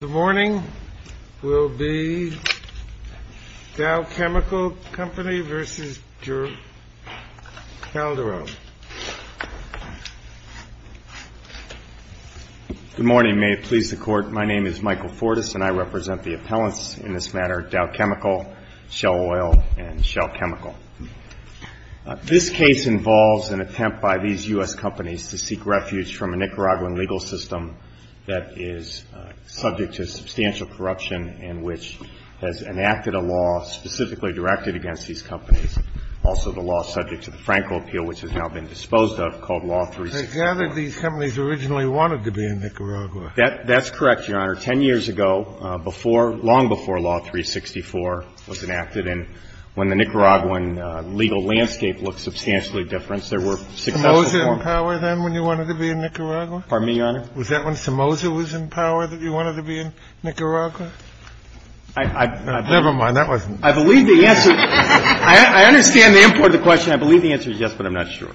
Good morning. May it please the Court, my name is Michael Fortas and I represent the appellants in this matter, Dow Chemical, Shell Oil, and Shell Chemical. This case involves an attempt by these U.S. companies to seek refuge from a Nicaraguan legal system that is subject to substantial corruption and which has enacted a law specifically directed against these companies, also the law subject to the Franco Appeal, which has now been disposed of, called Law 364. They gathered these companies originally wanted to be in Nicaragua. That's correct, Your Honor. Ten years ago, before, long before Law 364 was enacted, and when the Nicaraguan legal landscape looked substantially different, there were successful Was that when Somoza was in power that you wanted to be in Nicaragua? I believe the answer, I understand the import of the question. I believe the answer is yes, but I'm not sure.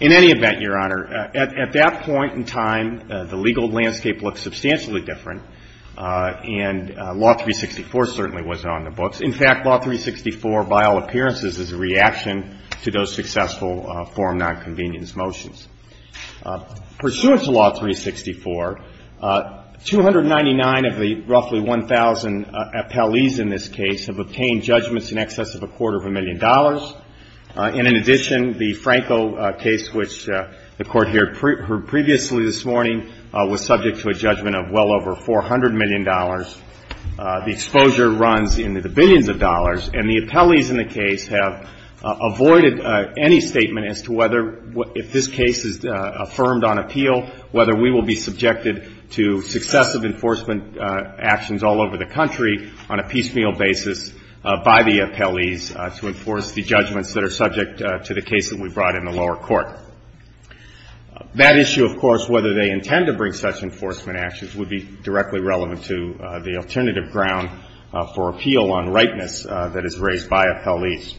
In any event, Your Honor, at that point in time, the legal landscape looked substantially different and Law 364 certainly wasn't on the books. In fact, Law 364, by all appearances, is a reaction to those successful form nonconvenience motions. Pursuant to Law 364, 299 of the roughly 1,000 appellees in this case have obtained judgments in excess of a quarter of a million dollars, and in addition, the Franco case, which the Court heard previously this morning, was subject to a judgment of well over $400 million. The exposure runs in the billions of dollars, and the appellees in the case have avoided any statement as to whether, if this case is affirmed on appeal, whether we will be subjected to successive enforcement actions all over the country on a piecemeal basis by the appellees to enforce the judgments that are subject to the case that we brought in the lower court. That issue, of course, whether they intend to bring such enforcement actions, would be directly relevant to the alternative ground for appeal on rightness that is raised by appellees.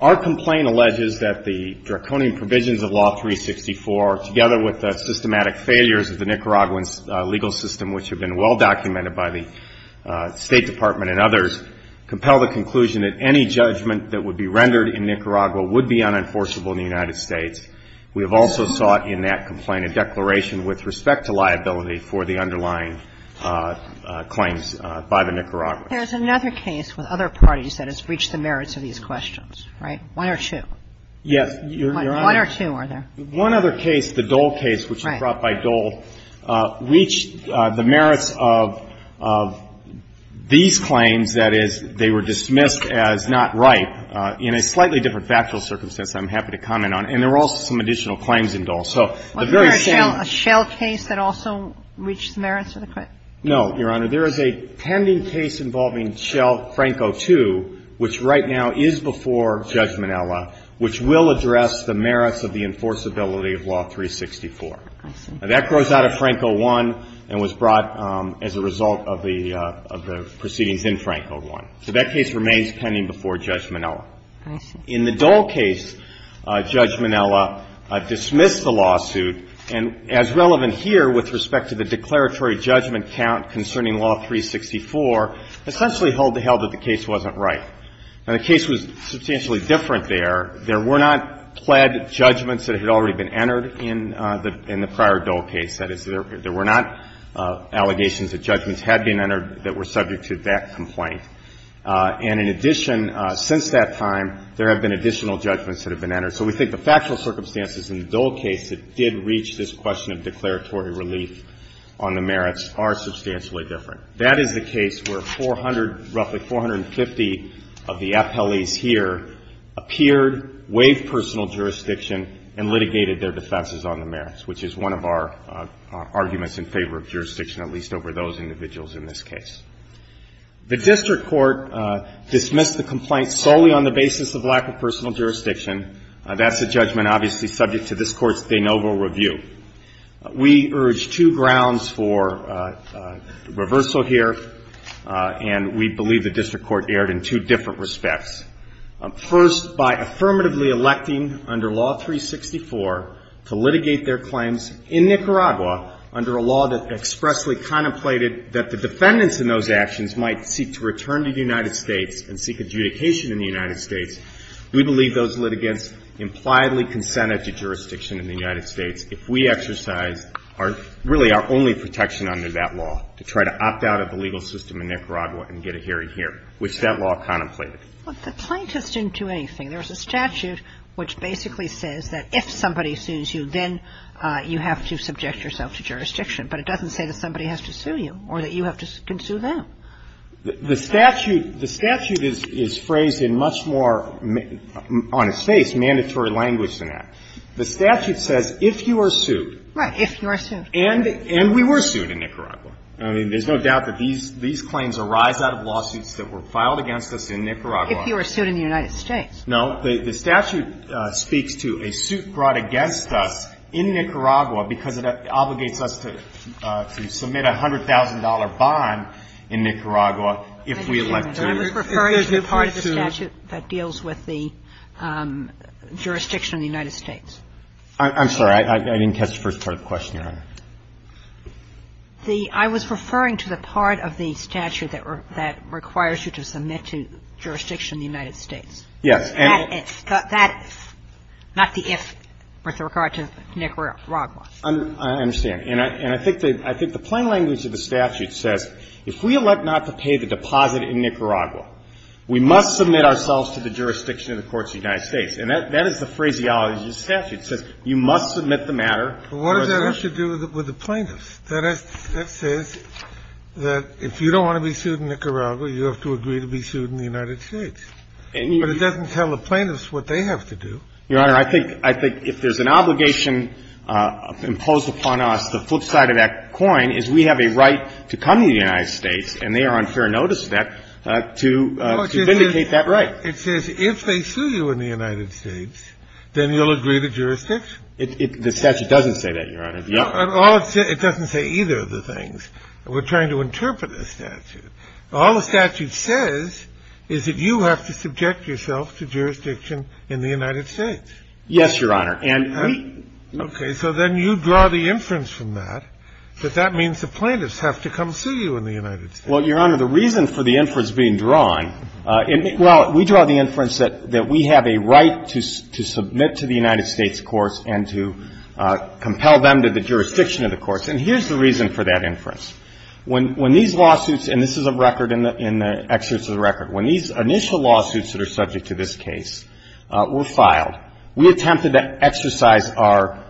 Our complaint alleges that the draconian provisions of Law 364, together with the systematic failures of the Nicaraguan legal system, which have been well documented by the State Department and others, compel the conclusion that any judgment that would be rendered in Nicaragua would be unenforceable in the United States. We have also sought in that complaint a declaration with respect to liability for the underlying claims by the Nicaraguans. There's another case with other parties that has breached the merits of these questions, right? One or two. Yes, Your Honor. One or two, are there? One other case, the Dole case, which was brought by Dole, reached the merits of these claims, that is, they were dismissed as not right, in a slightly different factual circumstance I'm happy to comment on, and there are also some additional claims in Dole. So the very same one. Wasn't there a Schell case that also reached the merits of the claim? No, Your Honor. There is a pending case involving Schell, Franco II, which right now is before Judge Minella, which will address the merits of the enforceability of Law 364. I see. Now, that grows out of Franco I and was brought as a result of the proceedings in Franco I. So that case remains pending before Judge Minella. I see. In the Dole case, Judge Minella dismissed the lawsuit, and as relevant here with respect to the declaratory judgment count concerning Law 364, essentially held that the case wasn't right. Now, the case was substantially different there. There were not pled judgments that had already been entered in the prior Dole case. That is, there were not allegations that judgments had been entered that were subject to that complaint. And in addition, since that time, there have been additional judgments that have been entered. So we think the factual circumstances in the Dole case that did reach this question of declaratory relief on the merits are substantially different. That is the case where roughly 450 of the appellees here appeared, waived personal jurisdiction, and litigated their defenses on the merits, which is one of our arguments in favor of jurisdiction, at least over those individuals in this case. The district court dismissed the complaint solely on the basis of lack of personal jurisdiction. That's a judgment obviously subject to this Court's de novo review. We urge two grounds for reversal here, and we believe the district court erred in two different respects. First, by affirmatively electing under Law 364 to litigate their claims in Nicaragua under a law that expressly contemplated that the defendants in those actions might seek to return to the United States and seek adjudication in the United States, we believe those litigants impliedly consented to jurisdiction in the United States if we exercised our – really our only protection under that law, to try to opt out of the legal system in Nicaragua and get a hearing here, which that law contemplated. But the plaintiffs didn't do anything. There was a statute which basically says that if somebody sues you, then you have to subject yourself to jurisdiction. But it doesn't say that somebody has to sue you or that you have to – can sue them. The statute – the statute is phrased in much more, on its face, mandatory language than that. The statute says if you are sued. Right. If you are sued. And we were sued in Nicaragua. I mean, there's no doubt that these claims arise out of lawsuits that were filed against us in Nicaragua. If you were sued in the United States. No. The statute speaks to a suit brought against us in Nicaragua because it obligates us to submit a $100,000 bond in Nicaragua if we elect to. If there's a free suit. I was referring to the part of the statute that deals with the jurisdiction in the United States. I'm sorry. I didn't catch the first part of the question, Your Honor. The – I was referring to the part of the statute that requires you to submit to jurisdiction in the United States. Yes. That is. That is. Not the if with regard to Nicaragua. I understand. And I think the plain language of the statute says if we elect not to pay the deposit in Nicaragua, we must submit ourselves to the jurisdiction of the courts of the United States. And that is the phraseology of the statute. It says you must submit the matter. But what does that have to do with the plaintiffs? That says that if you don't want to be sued in Nicaragua, you have to agree to be sued in the United States. But it doesn't tell the plaintiffs what they have to do. Your Honor, I think if there's an obligation imposed upon us, the flip side of that coin is we have a right to come to the United States, and they are on fair notice of that, to vindicate that right. It says if they sue you in the United States, then you'll agree to jurisdiction. The statute doesn't say that, Your Honor. It doesn't say either of the things. We're trying to interpret the statute. All the statute says is that you have to subject yourself to jurisdiction in the United States. Yes, Your Honor. And we – Okay. So then you draw the inference from that that that means the plaintiffs have to come sue you in the United States. Well, Your Honor, the reason for the inference being drawn – well, we draw the inference that we have a right to submit to the United States courts and to compel them to the jurisdiction of the courts. And here's the reason for that inference. When these lawsuits – and this is a record in the – in the excerpts of the record. When these initial lawsuits that are subject to this case were filed, we attempted to exercise our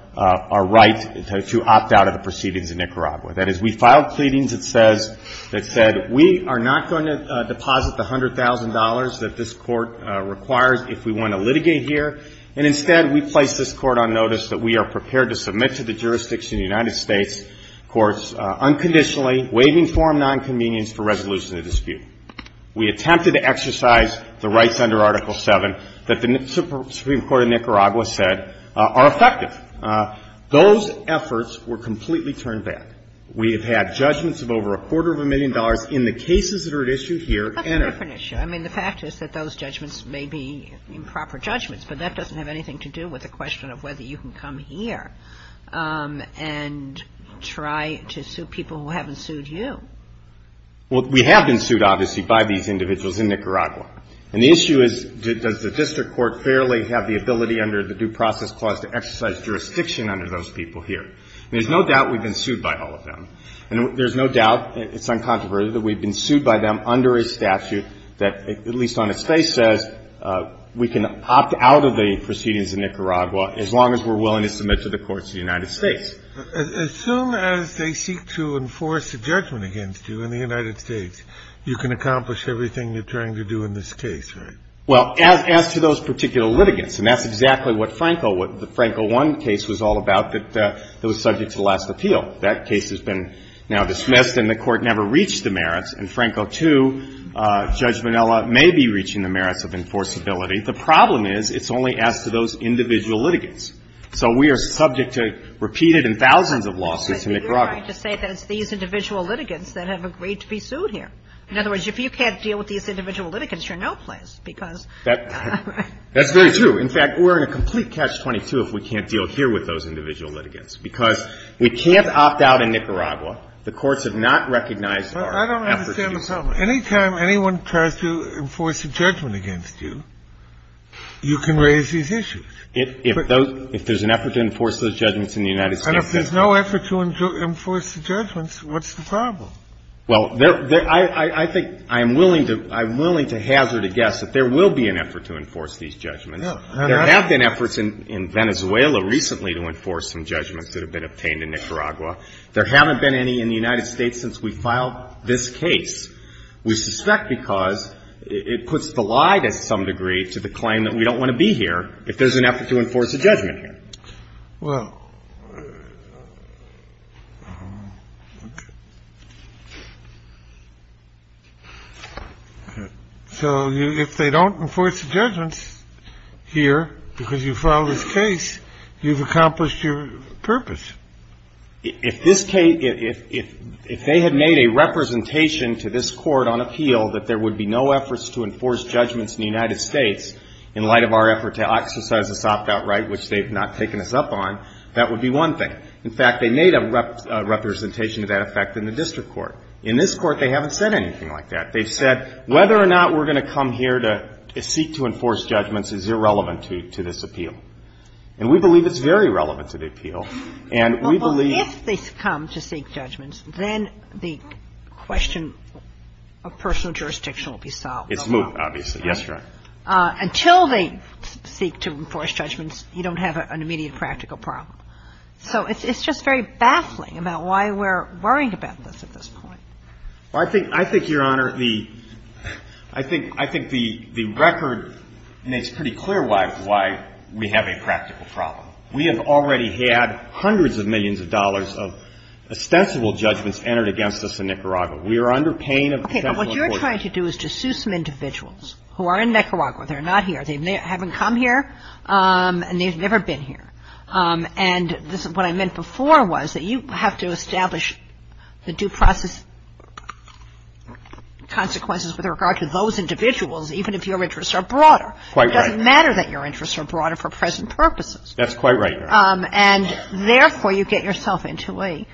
right to opt out of the proceedings in Nicaragua. That is, we filed pleadings that says – that said we are not going to deposit the $100,000 that this Court requires if we want to litigate here. And instead, we placed this Court on notice that we are prepared to submit to the waiving form nonconvenience for resolution of the dispute. We attempted to exercise the rights under Article VII that the Supreme Court of Nicaragua said are effective. Those efforts were completely turned back. We have had judgments of over a quarter of a million dollars in the cases that are at issue here and are – That's a different issue. I mean, the fact is that those judgments may be improper judgments, but that doesn't have anything to do with the question of whether you can come here and try to sue people who haven't sued you. Well, we have been sued, obviously, by these individuals in Nicaragua. And the issue is, does the district court fairly have the ability under the Due Process Clause to exercise jurisdiction under those people here? And there's no doubt we've been sued by all of them. And there's no doubt – it's uncontroverted – that we've been sued by them under a statute that, at least on its face, says we can opt out of the proceedings in Nicaragua as long as we're willing to submit to the courts of the United States. As soon as they seek to enforce a judgment against you in the United States, you can accomplish everything you're trying to do in this case, right? Well, as to those particular litigants, and that's exactly what Franco – what the Franco I case was all about, that it was subject to the last appeal. That case has been now dismissed, and the Court never reached the merits. In Franco II, Judge Minella may be reaching the merits of enforceability. The problem is, it's only as to those individual litigants. So we are subject to repeated and thousands of lawsuits in Nicaragua. But you're right to say that it's these individual litigants that have agreed to be sued here. In other words, if you can't deal with these individual litigants, you're no place because – That's very true. In fact, we're in a complete catch-22 if we can't deal here with those individual litigants, because we can't opt out in Nicaragua. The courts have not recognized our efforts to do that. But I don't understand the problem. Any time anyone tries to enforce a judgment against you, you can raise these issues. If those – if there's an effort to enforce those judgments in the United States case – And if there's no effort to enforce the judgments, what's the problem? Well, I think I'm willing to hazard a guess that there will be an effort to enforce these judgments. There have been efforts in Venezuela recently to enforce some judgments that have been obtained in Nicaragua. There haven't been any in the United States since we filed this case. We suspect because it puts the lie to some degree to the claim that we don't want to be here. If there's an effort to enforce a judgment here. Well, okay. So if they don't enforce the judgments here because you filed this case, you've accomplished your purpose. If this case – if they had made a representation to this Court on appeal that there was an effort to enforce a judgment here, that would be one thing. In fact, they made a representation to that effect in the district court. In this court, they haven't said anything like that. They've said whether or not we're going to come here to seek to enforce judgments is irrelevant to this appeal. And we believe it's very relevant to the appeal. And we believe – Well, if they come to seek judgments, then the question of personal jurisdiction will be solved. It's moved, obviously. Yes, Your Honor. Until they seek to enforce judgments, you don't have an immediate practical problem. So it's just very baffling about why we're worried about this at this point. Well, I think, Your Honor, the – I think the record makes pretty clear why we have a practical problem. We have already had hundreds of millions of dollars of ostensible judgments entered against us in Nicaragua. We are under pain of potential enforcement. But what you're trying to do is to sue some individuals who are in Nicaragua. They're not here. They haven't come here, and they've never been here. And this is what I meant before was that you have to establish the due process consequences with regard to those individuals, even if your interests are broader. Quite right. It doesn't matter that your interests are broader for present purposes. That's quite right, Your Honor. And therefore, you get yourself into a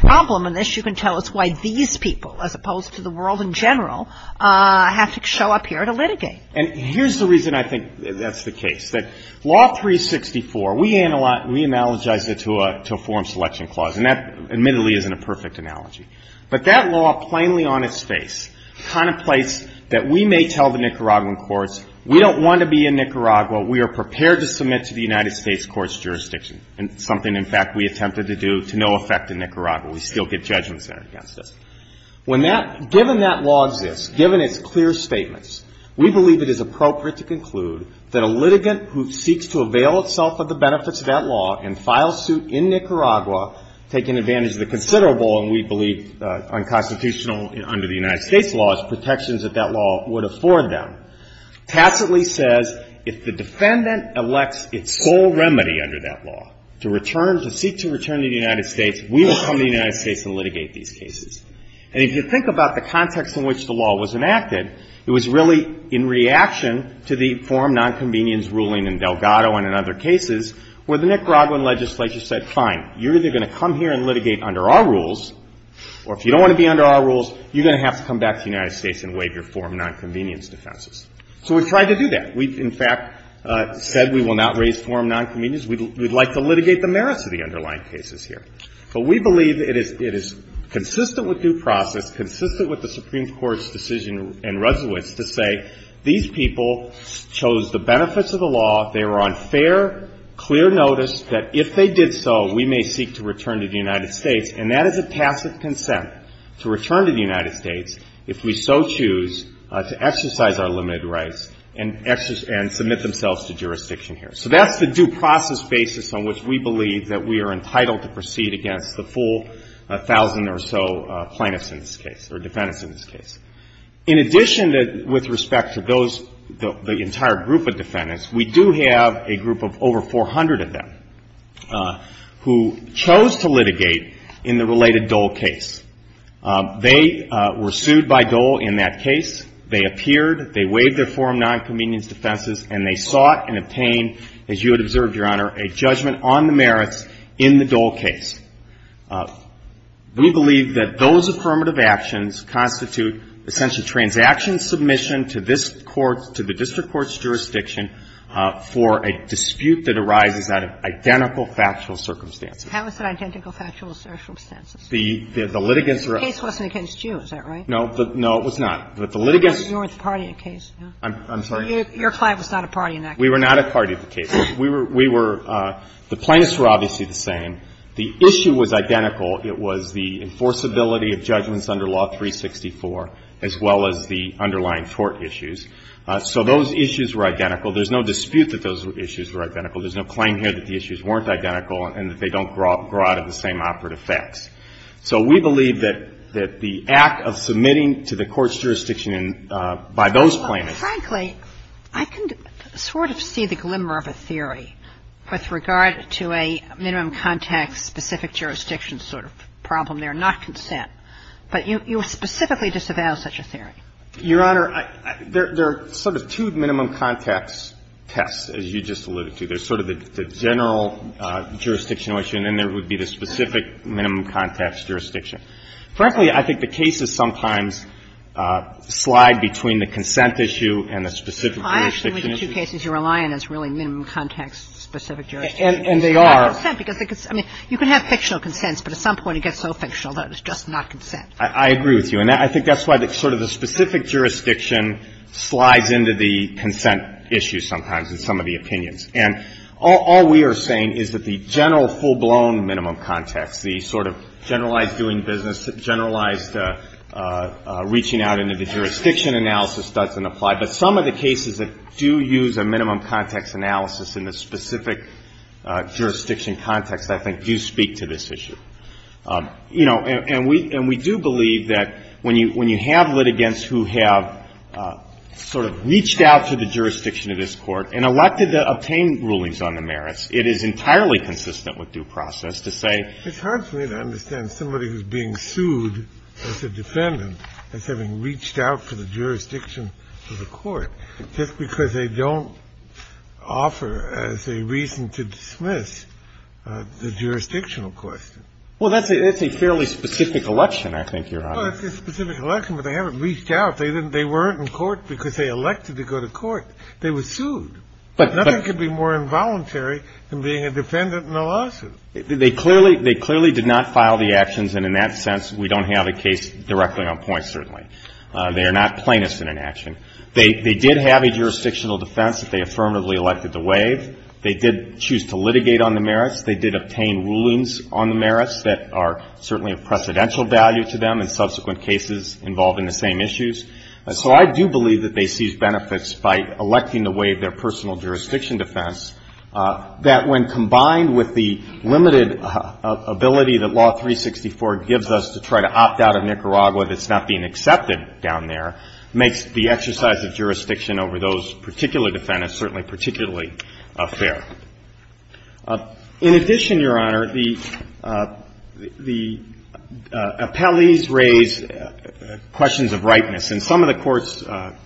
problem. And this – you can tell us why these people, as opposed to the world in general, have to show up here to litigate. And here's the reason I think that's the case, that Law 364, we analogize it to a form selection clause. And that, admittedly, isn't a perfect analogy. But that law, plainly on its face, contemplates that we may tell the Nicaraguan courts, we don't want to be in Nicaragua. We are prepared to submit to the United States court's jurisdiction, and something, in fact, we attempted to do to no effect in Nicaragua. We still get judgment sent against us. When that – given that law exists, given its clear statements, we believe it is appropriate to conclude that a litigant who seeks to avail itself of the benefits of that law and file suit in Nicaragua, taking advantage of the considerable, and we believe unconstitutional under the United States laws, protections that that law would afford them, tacitly says if the defendant elects its sole remedy under that law to return – to seek to return to the United States, we will come to the United States and litigate these cases. And if you think about the context in which the law was enacted, it was really in reaction to the forum nonconvenience ruling in Delgado and in other cases where the Nicaraguan legislature said, fine, you're either going to come here and litigate under our rules, or if you don't want to be under our rules, you're going to have to come back to the United States and waive your forum nonconvenience defenses. So we tried to do that. We, in fact, said we will not raise forum nonconvenience. We'd like to litigate the merits of the underlying cases here. But we believe it is – it is consistent with due process, consistent with the Supreme Court's decision in Resowitz to say these people chose the benefits of the law. They were on fair, clear notice that if they did so, we may seek to return to the United States. And that is a tacit consent to return to the United States if we so choose to exercise our limited rights and – and submit themselves to jurisdiction here. So that's the due process basis on which we believe that we are entitled to proceed against the full 1,000 or so plaintiffs in this case – or defendants in this case. In addition to – with respect to those – the entire group of defendants, we do have a group of over 400 of them who chose to litigate in the related Dole case. They were sued by Dole in that case. They appeared, they waived their forum nonconvenience defenses, and they sought and obtained, as you had observed, Your Honor, a judgment on the merits in the Dole case. We believe that those affirmative actions constitute essentially transaction submission to this Court's – to the district court's jurisdiction for a dispute that arises out of identical factual circumstances. How is it identical factual circumstances? The litigants were – The case wasn't against you, is that right? No. No, it was not. But the litigants – You weren't a party in the case. I'm sorry? Your client was not a party in that case. We were not a party in the case. We were – the plaintiffs were obviously the same. The issue was identical. It was the enforceability of judgments under Law 364, as well as the underlying court issues. So those issues were identical. There's no dispute that those issues were identical. There's no claim here that the issues weren't identical and that they don't grow out of the same operative facts. So we believe that the act of submitting to the Court's jurisdiction by those plaintiffs – Frankly, I can sort of see the glimmer of a theory with regard to a minimum context specific jurisdiction sort of problem there, not consent. But you specifically disavow such a theory. Your Honor, there are sort of two minimum context tests, as you just alluded to. There's sort of the general jurisdictional issue, and then there would be the specific minimum context jurisdiction. Frankly, I think the cases sometimes slide between the consent issue and the specific jurisdiction issue. Well, I actually think the two cases you're relying on is really minimum context specific jurisdiction. And they are. It's not consent, because – I mean, you can have fictional consents, but at some point it gets so fictional that it's just not consent. I agree with you. And I think that's why sort of the specific jurisdiction slides into the consent issue sometimes in some of the opinions. And all we are saying is that the general full-blown minimum context, the sort of generalized doing business, generalized reaching out into the jurisdiction analysis doesn't apply. But some of the cases that do use a minimum context analysis in the specific jurisdiction context, I think, do speak to this issue. You know, and we do believe that when you have litigants who have sort of reached out to the jurisdiction of this court and elected to obtain rulings on the merits, it is entirely consistent with due process to say – It's hard for me to understand somebody who's being sued as a defendant as having reached out to the jurisdiction of the court just because they don't offer as a reason to dismiss the jurisdictional question. Well, that's a fairly specific election, I think, Your Honor. Well, it's a specific election, but they haven't reached out. They weren't in court because they elected to go to court. They were sued. But nothing could be more involuntary than being a defendant in a lawsuit. They clearly did not file the actions, and in that sense, we don't have a case directly on point, certainly. They are not plaintiffs in an action. They did have a jurisdictional defense that they affirmatively elected to waive. They did choose to litigate on the merits. They did obtain rulings on the merits that are certainly of precedential value to them in subsequent cases involving the same issues. So I do believe that they seized benefits by electing to waive their personal jurisdiction defense, that when combined with the limited ability that Law 364 gives us to try to opt out of Nicaragua that's not being accepted down there, makes the exercise of jurisdiction over those particular defendants certainly particularly fair. In addition, Your Honor, the appellees raise questions of rightness. And some of the Court's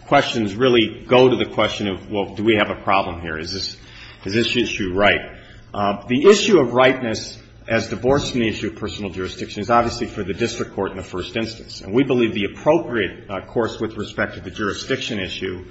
questions really go to the question of, well, do we have a problem here? Is this issue right? The issue of rightness as divorced from the issue of personal jurisdiction is obviously for the district court in the first instance. And we believe the appropriate course with respect to the jurisdiction issue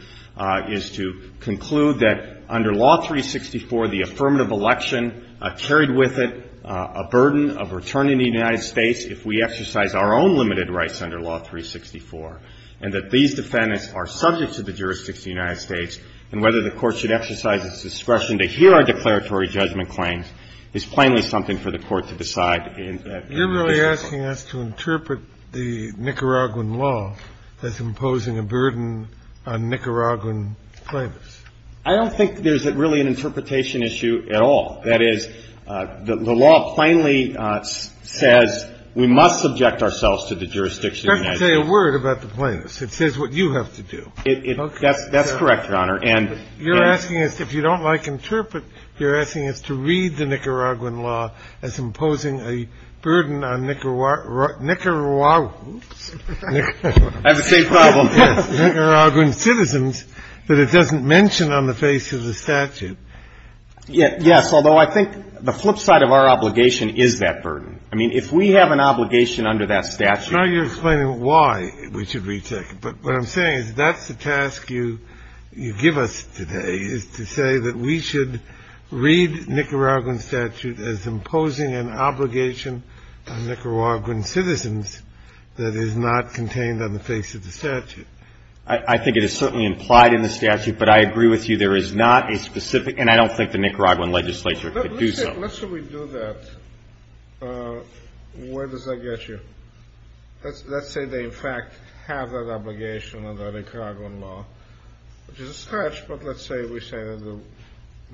is to conclude that under Law 364, the affirmative election carried with it a burden of returning to the United States if we exercise our own limited rights under Law 364, and that these defendants are subject to the jurisdiction of the United States. And whether the Court should exercise its discretion to hear our declaratory judgment claims is plainly something for the Court to decide in that case. You're really asking us to interpret the Nicaraguan law as imposing a burden on Nicaraguan claimants. I don't think there's really an interpretation issue at all. That is, the law plainly says we must subject ourselves to the jurisdiction of the United States. It doesn't say a word about the plaintiffs. It says what you have to do. Okay. That's correct, Your Honor. You're asking us, if you don't like interpret, you're asking us to read the Nicaraguan law as imposing a burden on Nicaraguan citizens that it doesn't mention. Yes, although I think the flip side of our obligation is that burden. I mean, if we have an obligation under that statute. Now you're explaining why we should retake it. But what I'm saying is that's the task you give us today, is to say that we should read Nicaraguan statute as imposing an obligation on Nicaraguan citizens that is not contained on the face of the statute. I think it is certainly implied in the statute, but I agree with you there is not a specific, and I don't think the Nicaraguan legislature could do so. Let's say we do that. Where does that get you? Let's say they in fact have that obligation under the Nicaraguan law, which is a stretch, but let's say we say that the,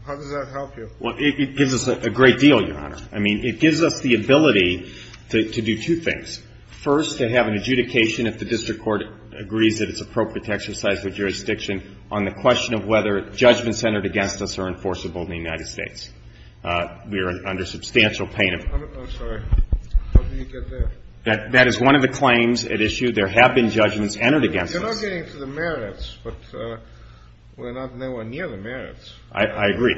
how does that help you? Well, it gives us a great deal, Your Honor. I mean, it gives us the ability to do two things. First, to have an adjudication if the district court agrees that it's appropriate to exercise the jurisdiction on the question of whether judgments entered against us are enforceable in the United States. We are under substantial pain of that. I'm sorry. How did you get there? That is one of the claims at issue. There have been judgments entered against us. You're not getting to the merits, but we're not nowhere near the merits. I agree.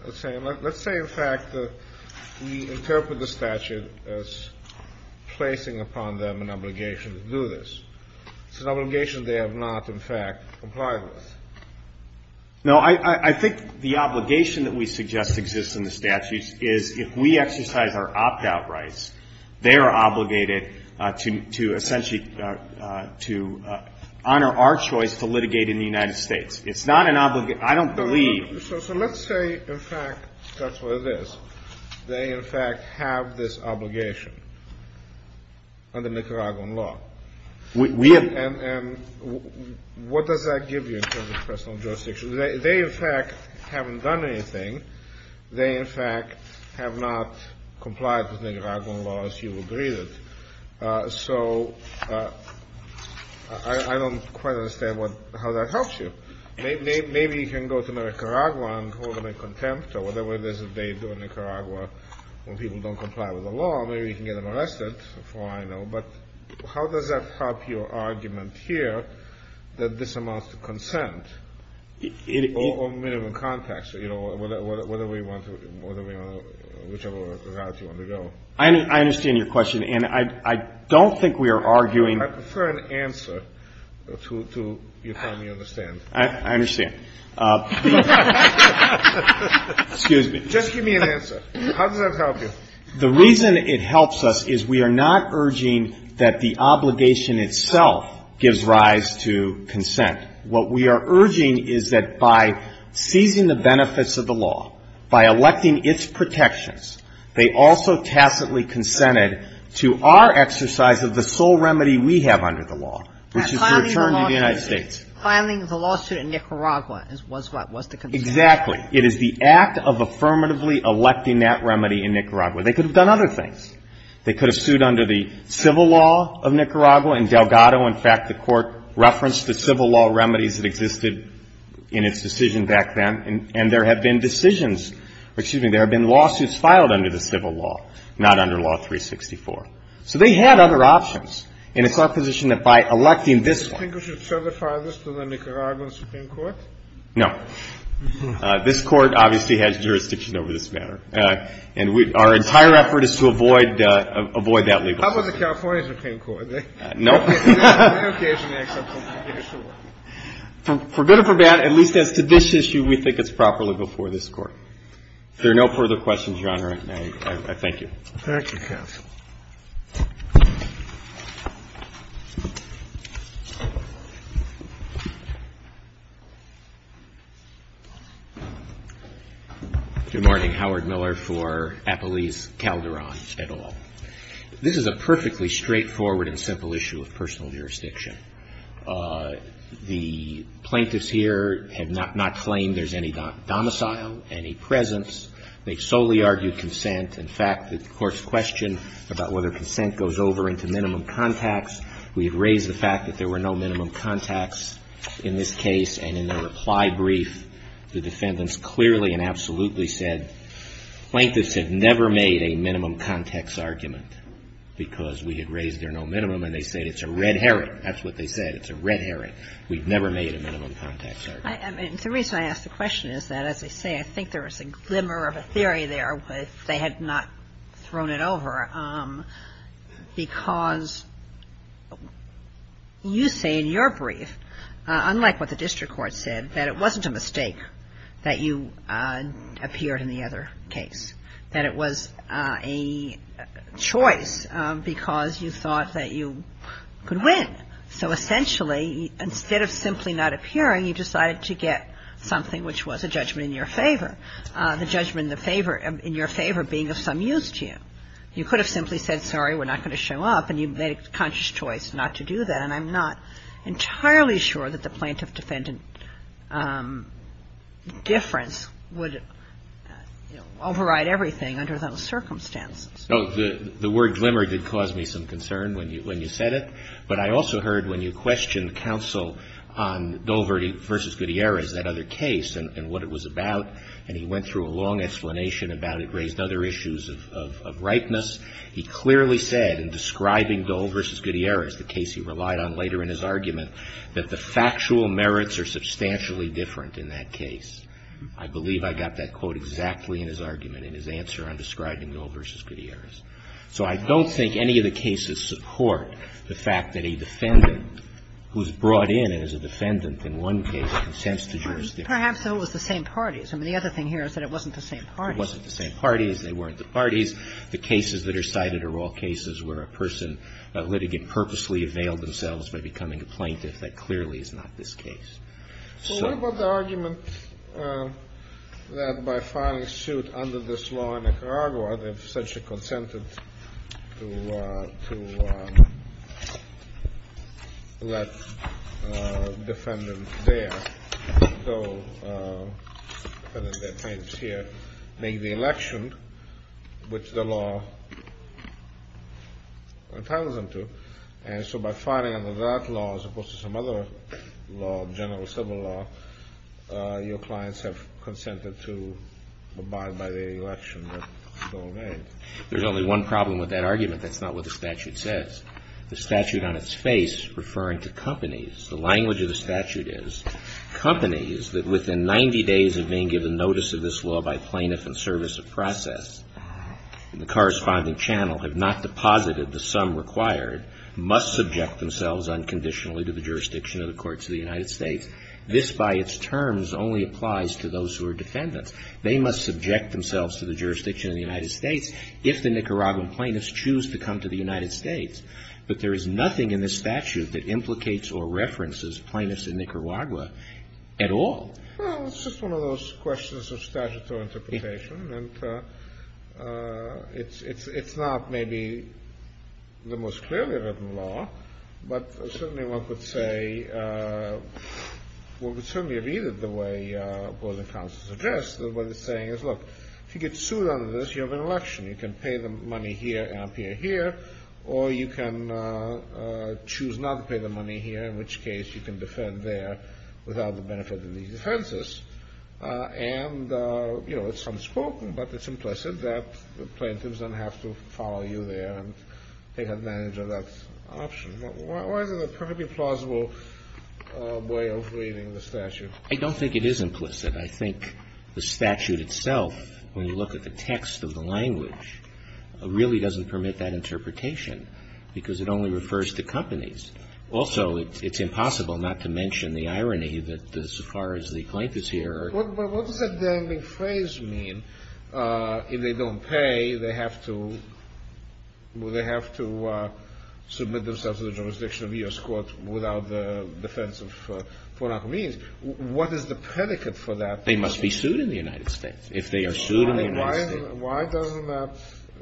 Let's say, in fact, that we interpret the statute as placing upon them an obligation to do this. It's an obligation they have not, in fact, complied with. No, I think the obligation that we suggest exists in the statute is if we exercise our opt-out rights, they are obligated to essentially, to honor our choice to litigate in the United States. It's not an obligation. I don't believe. So let's say, in fact, that's what it is. They, in fact, have this obligation under Nicaraguan law. And what does that give you in terms of personal jurisdiction? They, in fact, haven't done anything. They, in fact, have not complied with Nicaraguan law as you would read it. So I don't quite understand how that helps you. Maybe you can go to Nicaragua and hold them in contempt or whatever it is that they do in Nicaragua when people don't comply with the law. Maybe you can get them arrested, for all I know. But how does that help your argument here that this amounts to consent or minimum contact? You know, whatever you want to, whichever route you want to go. I understand your question. And I don't think we are arguing. I prefer an answer to, if I may understand. I understand. Excuse me. Just give me an answer. How does that help you? The reason it helps us is we are not urging that the obligation itself gives rise to consent. What we are urging is that by seizing the benefits of the law, by electing its protections, they also tacitly consented to our exercise of the sole remedy we have under the law, which is the return to the United States. By filing the lawsuit in Nicaragua was the consent. Exactly. It is the act of affirmatively electing that remedy in Nicaragua. They could have done other things. They could have sued under the civil law of Nicaragua. In Delgado, in fact, the Court referenced the civil law remedies that existed in its decision back then. And there have been decisions, excuse me, there have been lawsuits filed under the civil law, not under Law 364. So they had other options. And it's our position that by electing this one. Do you think we should certify this to the Nicaraguan Supreme Court? No. This Court obviously has jurisdiction over this matter. And our entire effort is to avoid that legal. How about the California Supreme Court? No. They occasionally accept something. For better or for bad, at least as to this issue, we think it's properly before this Court. If there are no further questions, Your Honor, I thank you. Thank you, counsel. Good morning. Howard Miller for Appalese Calderon et al. This is a perfectly straightforward and simple issue of personal jurisdiction. The plaintiffs here have not claimed there's any domicile, any presence. They solely argued consent. In fact, the Court's question about whether consent goes over into minimum contacts, we had raised the fact that there were no minimum contacts in this case. And in their reply brief, the defendants clearly and absolutely said, plaintiffs have never made a minimum contacts argument because we had raised there no minimum. And they said it's a red herring. That's what they said. It's a red herring. We've never made a minimum contacts argument. The reason I ask the question is that, as I say, I think there was a glimmer of a theory there that they had not thrown it over because you say in your brief, unlike what the district court said, that it wasn't a mistake that you appeared in the other case. That it was a choice because you thought that you could win. So essentially, instead of simply not appearing, you decided to get something which was a judgment in your favor. The judgment in your favor being of some use to you. You could have simply said, sorry, we're not going to show up, and you made a conscious choice not to do that. And I'm not entirely sure that the plaintiff-defendant difference would, you know, override everything under those circumstances. Oh, the word glimmer did cause me some concern when you said it. But I also heard when you questioned counsel on Dole v. Gutierrez, that other case, and what it was about, and he went through a long explanation about it, raised other issues of ripeness. He clearly said in describing Dole v. Gutierrez, the case he relied on later in his argument, that the factual merits are substantially different in that case. I believe I got that quote exactly in his argument, in his answer on describing Dole v. Gutierrez. So I don't think any of the cases support the fact that a defendant who's brought in and is a defendant in one case consents to jurisdiction. Perhaps it was the same parties. I mean, the other thing here is that it wasn't the same parties. It wasn't the same parties. They weren't the parties. The cases that are cited are all cases where a person, a litigant purposely availed themselves by becoming a plaintiff. That clearly is not this case. So what about the argument that by filing suit under this law in Nicaragua, they've essentially consented to let a defendant there, a defendant that claims here, make the election which the law entitles them to. And so by filing under that law as opposed to some other law, general civil law, your clients have consented to abide by the election that Dole made. There's only one problem with that argument. That's not what the statute says. The statute on its face is referring to companies. The language of the statute is, companies that within 90 days of being given notice of this law by plaintiff and service of process in the corresponding channel have not deposited the sum required, must subject themselves unconditionally to the jurisdiction of the courts of the United States. This by its terms only applies to those who are defendants. They must subject themselves to the jurisdiction of the United States if the Nicaraguan plaintiffs choose to come to the United States. But there is nothing in the statute that implicates or references plaintiffs in Nicaragua at all. Well, it's just one of those questions of statutory interpretation. And it's not maybe the most clearly written law, but certainly one could say, well, we certainly read it the way Board of Counsel suggests. What it's saying is, look, if you get sued under this, you have an election. You can pay the money here and up here, or you can choose not to pay the money here, in which case you can defend there without the benefit of these defenses. And, you know, it's unspoken, but it's implicit that the plaintiffs don't have to follow you there and take advantage of that option. Why is it a perfectly plausible way of reading the statute? I don't think it is implicit. when you look at the text of the language, it really doesn't permit that interpretation, because it only refers to companies. Also, it's impossible not to mention the irony that, as far as the plaintiffs here are concerned. But what does that dangling phrase mean? If they don't pay, they have to submit themselves to the jurisdiction of U.S. court without the defense of foreign agreements. What is the predicate for that? They must be sued in the United States. If they are sued in the United States. Why doesn't that,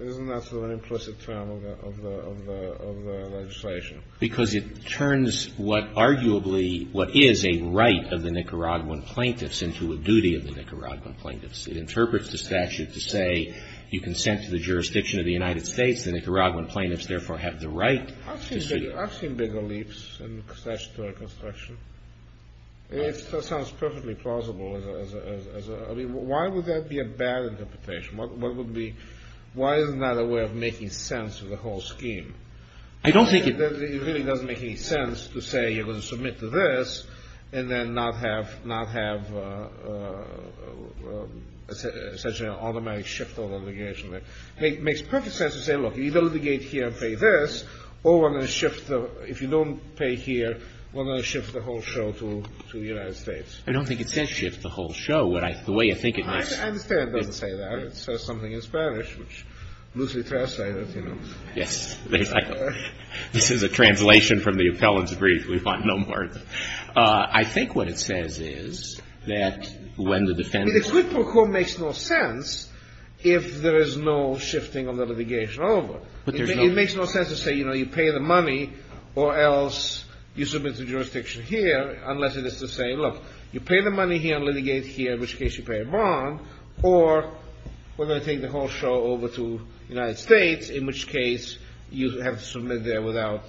isn't that sort of an implicit term of the legislation? Because it turns what arguably, what is a right of the Nicaraguan plaintiffs, into a duty of the Nicaraguan plaintiffs. It interprets the statute to say, you consent to the jurisdiction of the United States, the Nicaraguan plaintiffs therefore have the right to sue. I've seen bigger leaps in statutory construction. It sounds perfectly plausible. Why would that be a bad interpretation? Why is it not a way of making sense of the whole scheme? It really doesn't make any sense to say, you're going to submit to this, and then not have such an automatic shift of litigation. It makes perfect sense to say, look, you can litigate here and pay this, or if you don't pay here, we're going to shift the whole show to the United States. I don't think it says shift the whole show. The way I think it is. I understand it doesn't say that. It says something in Spanish, which loosely translates, you know. Yes. This is a translation from the appellant's brief, we want no more. I think what it says is, that when the defendant... It would make no sense, if there is no shifting of the litigation over. It makes no sense to say, you know, you pay the money, or else you submit to jurisdiction here, unless it is to say, look, you pay the money here, litigate here, in which case you pay a bond, or we're going to take the whole show over to the United States, in which case you have to submit there without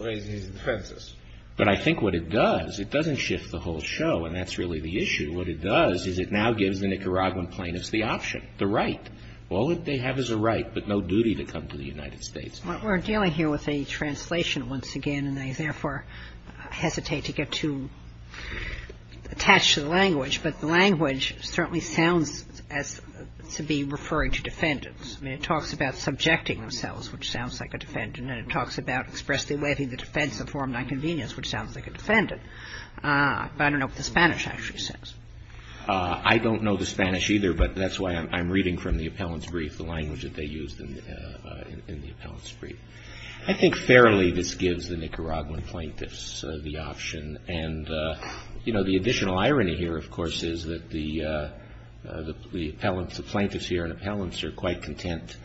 raising any defenses. But I think what it does, it doesn't shift the whole show, and that's really the issue. What it does is, it now gives the Nicaraguan plaintiffs the option, the right. All that they have is a right, but no duty to come to the United States. We're dealing here with a translation once again, and they, therefore, hesitate to get too attached to the language, but the language certainly sounds as to be referring to defendants. I mean, it talks about subjecting themselves, which sounds like a defendant, and it talks about expressly waiving the defense of form nonconvenience, which sounds like a defendant. But I don't know what the Spanish actually says. I don't know the Spanish either, but that's why I'm reading from the appellant's brief, the language that they used in the appellant's brief. I think fairly this gives the Nicaraguan plaintiffs the option, and the additional irony here, of course, is that the plaintiffs here and appellants are quite content,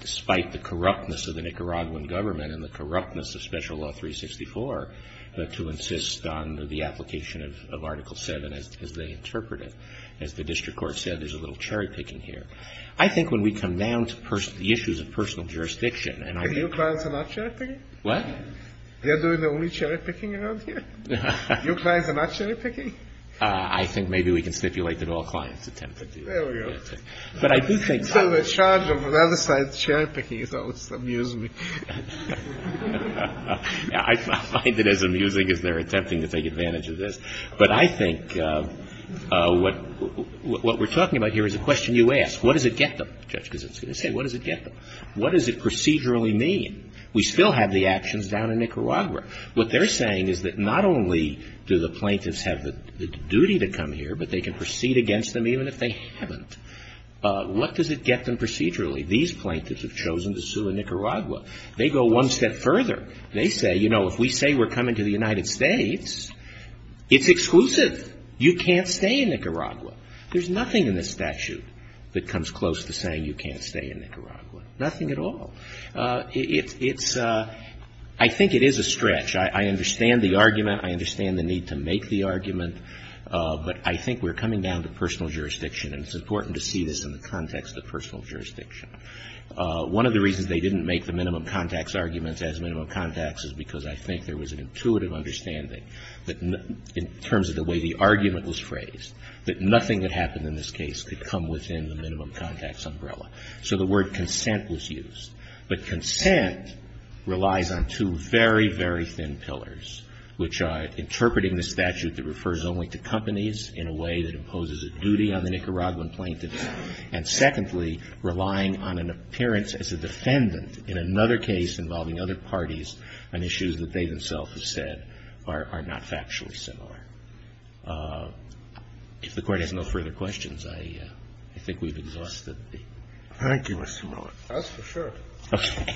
despite the corruptness of the Nicaraguan government, and the corruptness of Special Law 364, to insist on the application of Article 7 as they interpret it. As the district court said, there's a little cherry picking here. I think when we come down to the issues of personal jurisdiction, Your clients are not cherry picking? What? They're doing the only cherry picking around here? Your clients are not cherry picking? I think maybe we can stipulate that all clients attempt to do that. There we go. But I do think... So the charge of another side's cherry picking is always amusing. I find it as amusing as their attempting to take advantage of this. But I think what we're talking about here is a question you ask. What does it get them? Judge, because it's going to say, what does it get them? What does it procedurally mean? We still have the actions down in Nicaragua. What they're saying is that not only do the plaintiffs have the duty to come here, but they can proceed against them even if they haven't. What does it get them procedurally? These plaintiffs have chosen to sue in Nicaragua. They go one step further. They say, you know, if we say we're coming to the United States, it's exclusive. You can't stay in Nicaragua. There's nothing in this statute that comes close to saying you can't stay in Nicaragua. Nothing at all. It's... I think it is a stretch. I understand the argument. I understand the need to make the argument. But I think we're coming down to personal jurisdiction. And it's important to see this in the context of personal jurisdiction. One of the reasons they didn't make the minimum contacts arguments as minimum contacts is because I think there was an intuitive understanding in terms of the way the argument was phrased, that nothing that happened in this case could come within the minimum contacts umbrella. So the word consent was used. But consent relies on two very, very thin pillars, which are interpreting the statute that refers only to companies in a way that imposes a duty on the Nicaraguan plaintiffs, and secondly, relying on an appearance as a defendant in another case involving other parties on issues that they themselves have said are not factually similar. If the Court has no further questions, I think we've exhausted the... Thank you, Mr. Miller. That's for sure. Okay.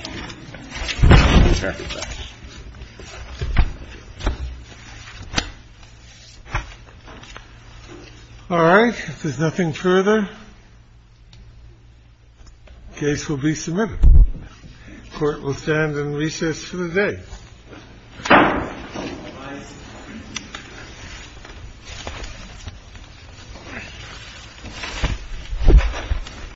All right. If there's nothing further, the case will be submitted. The Court will stand in recess for the day. Thank you.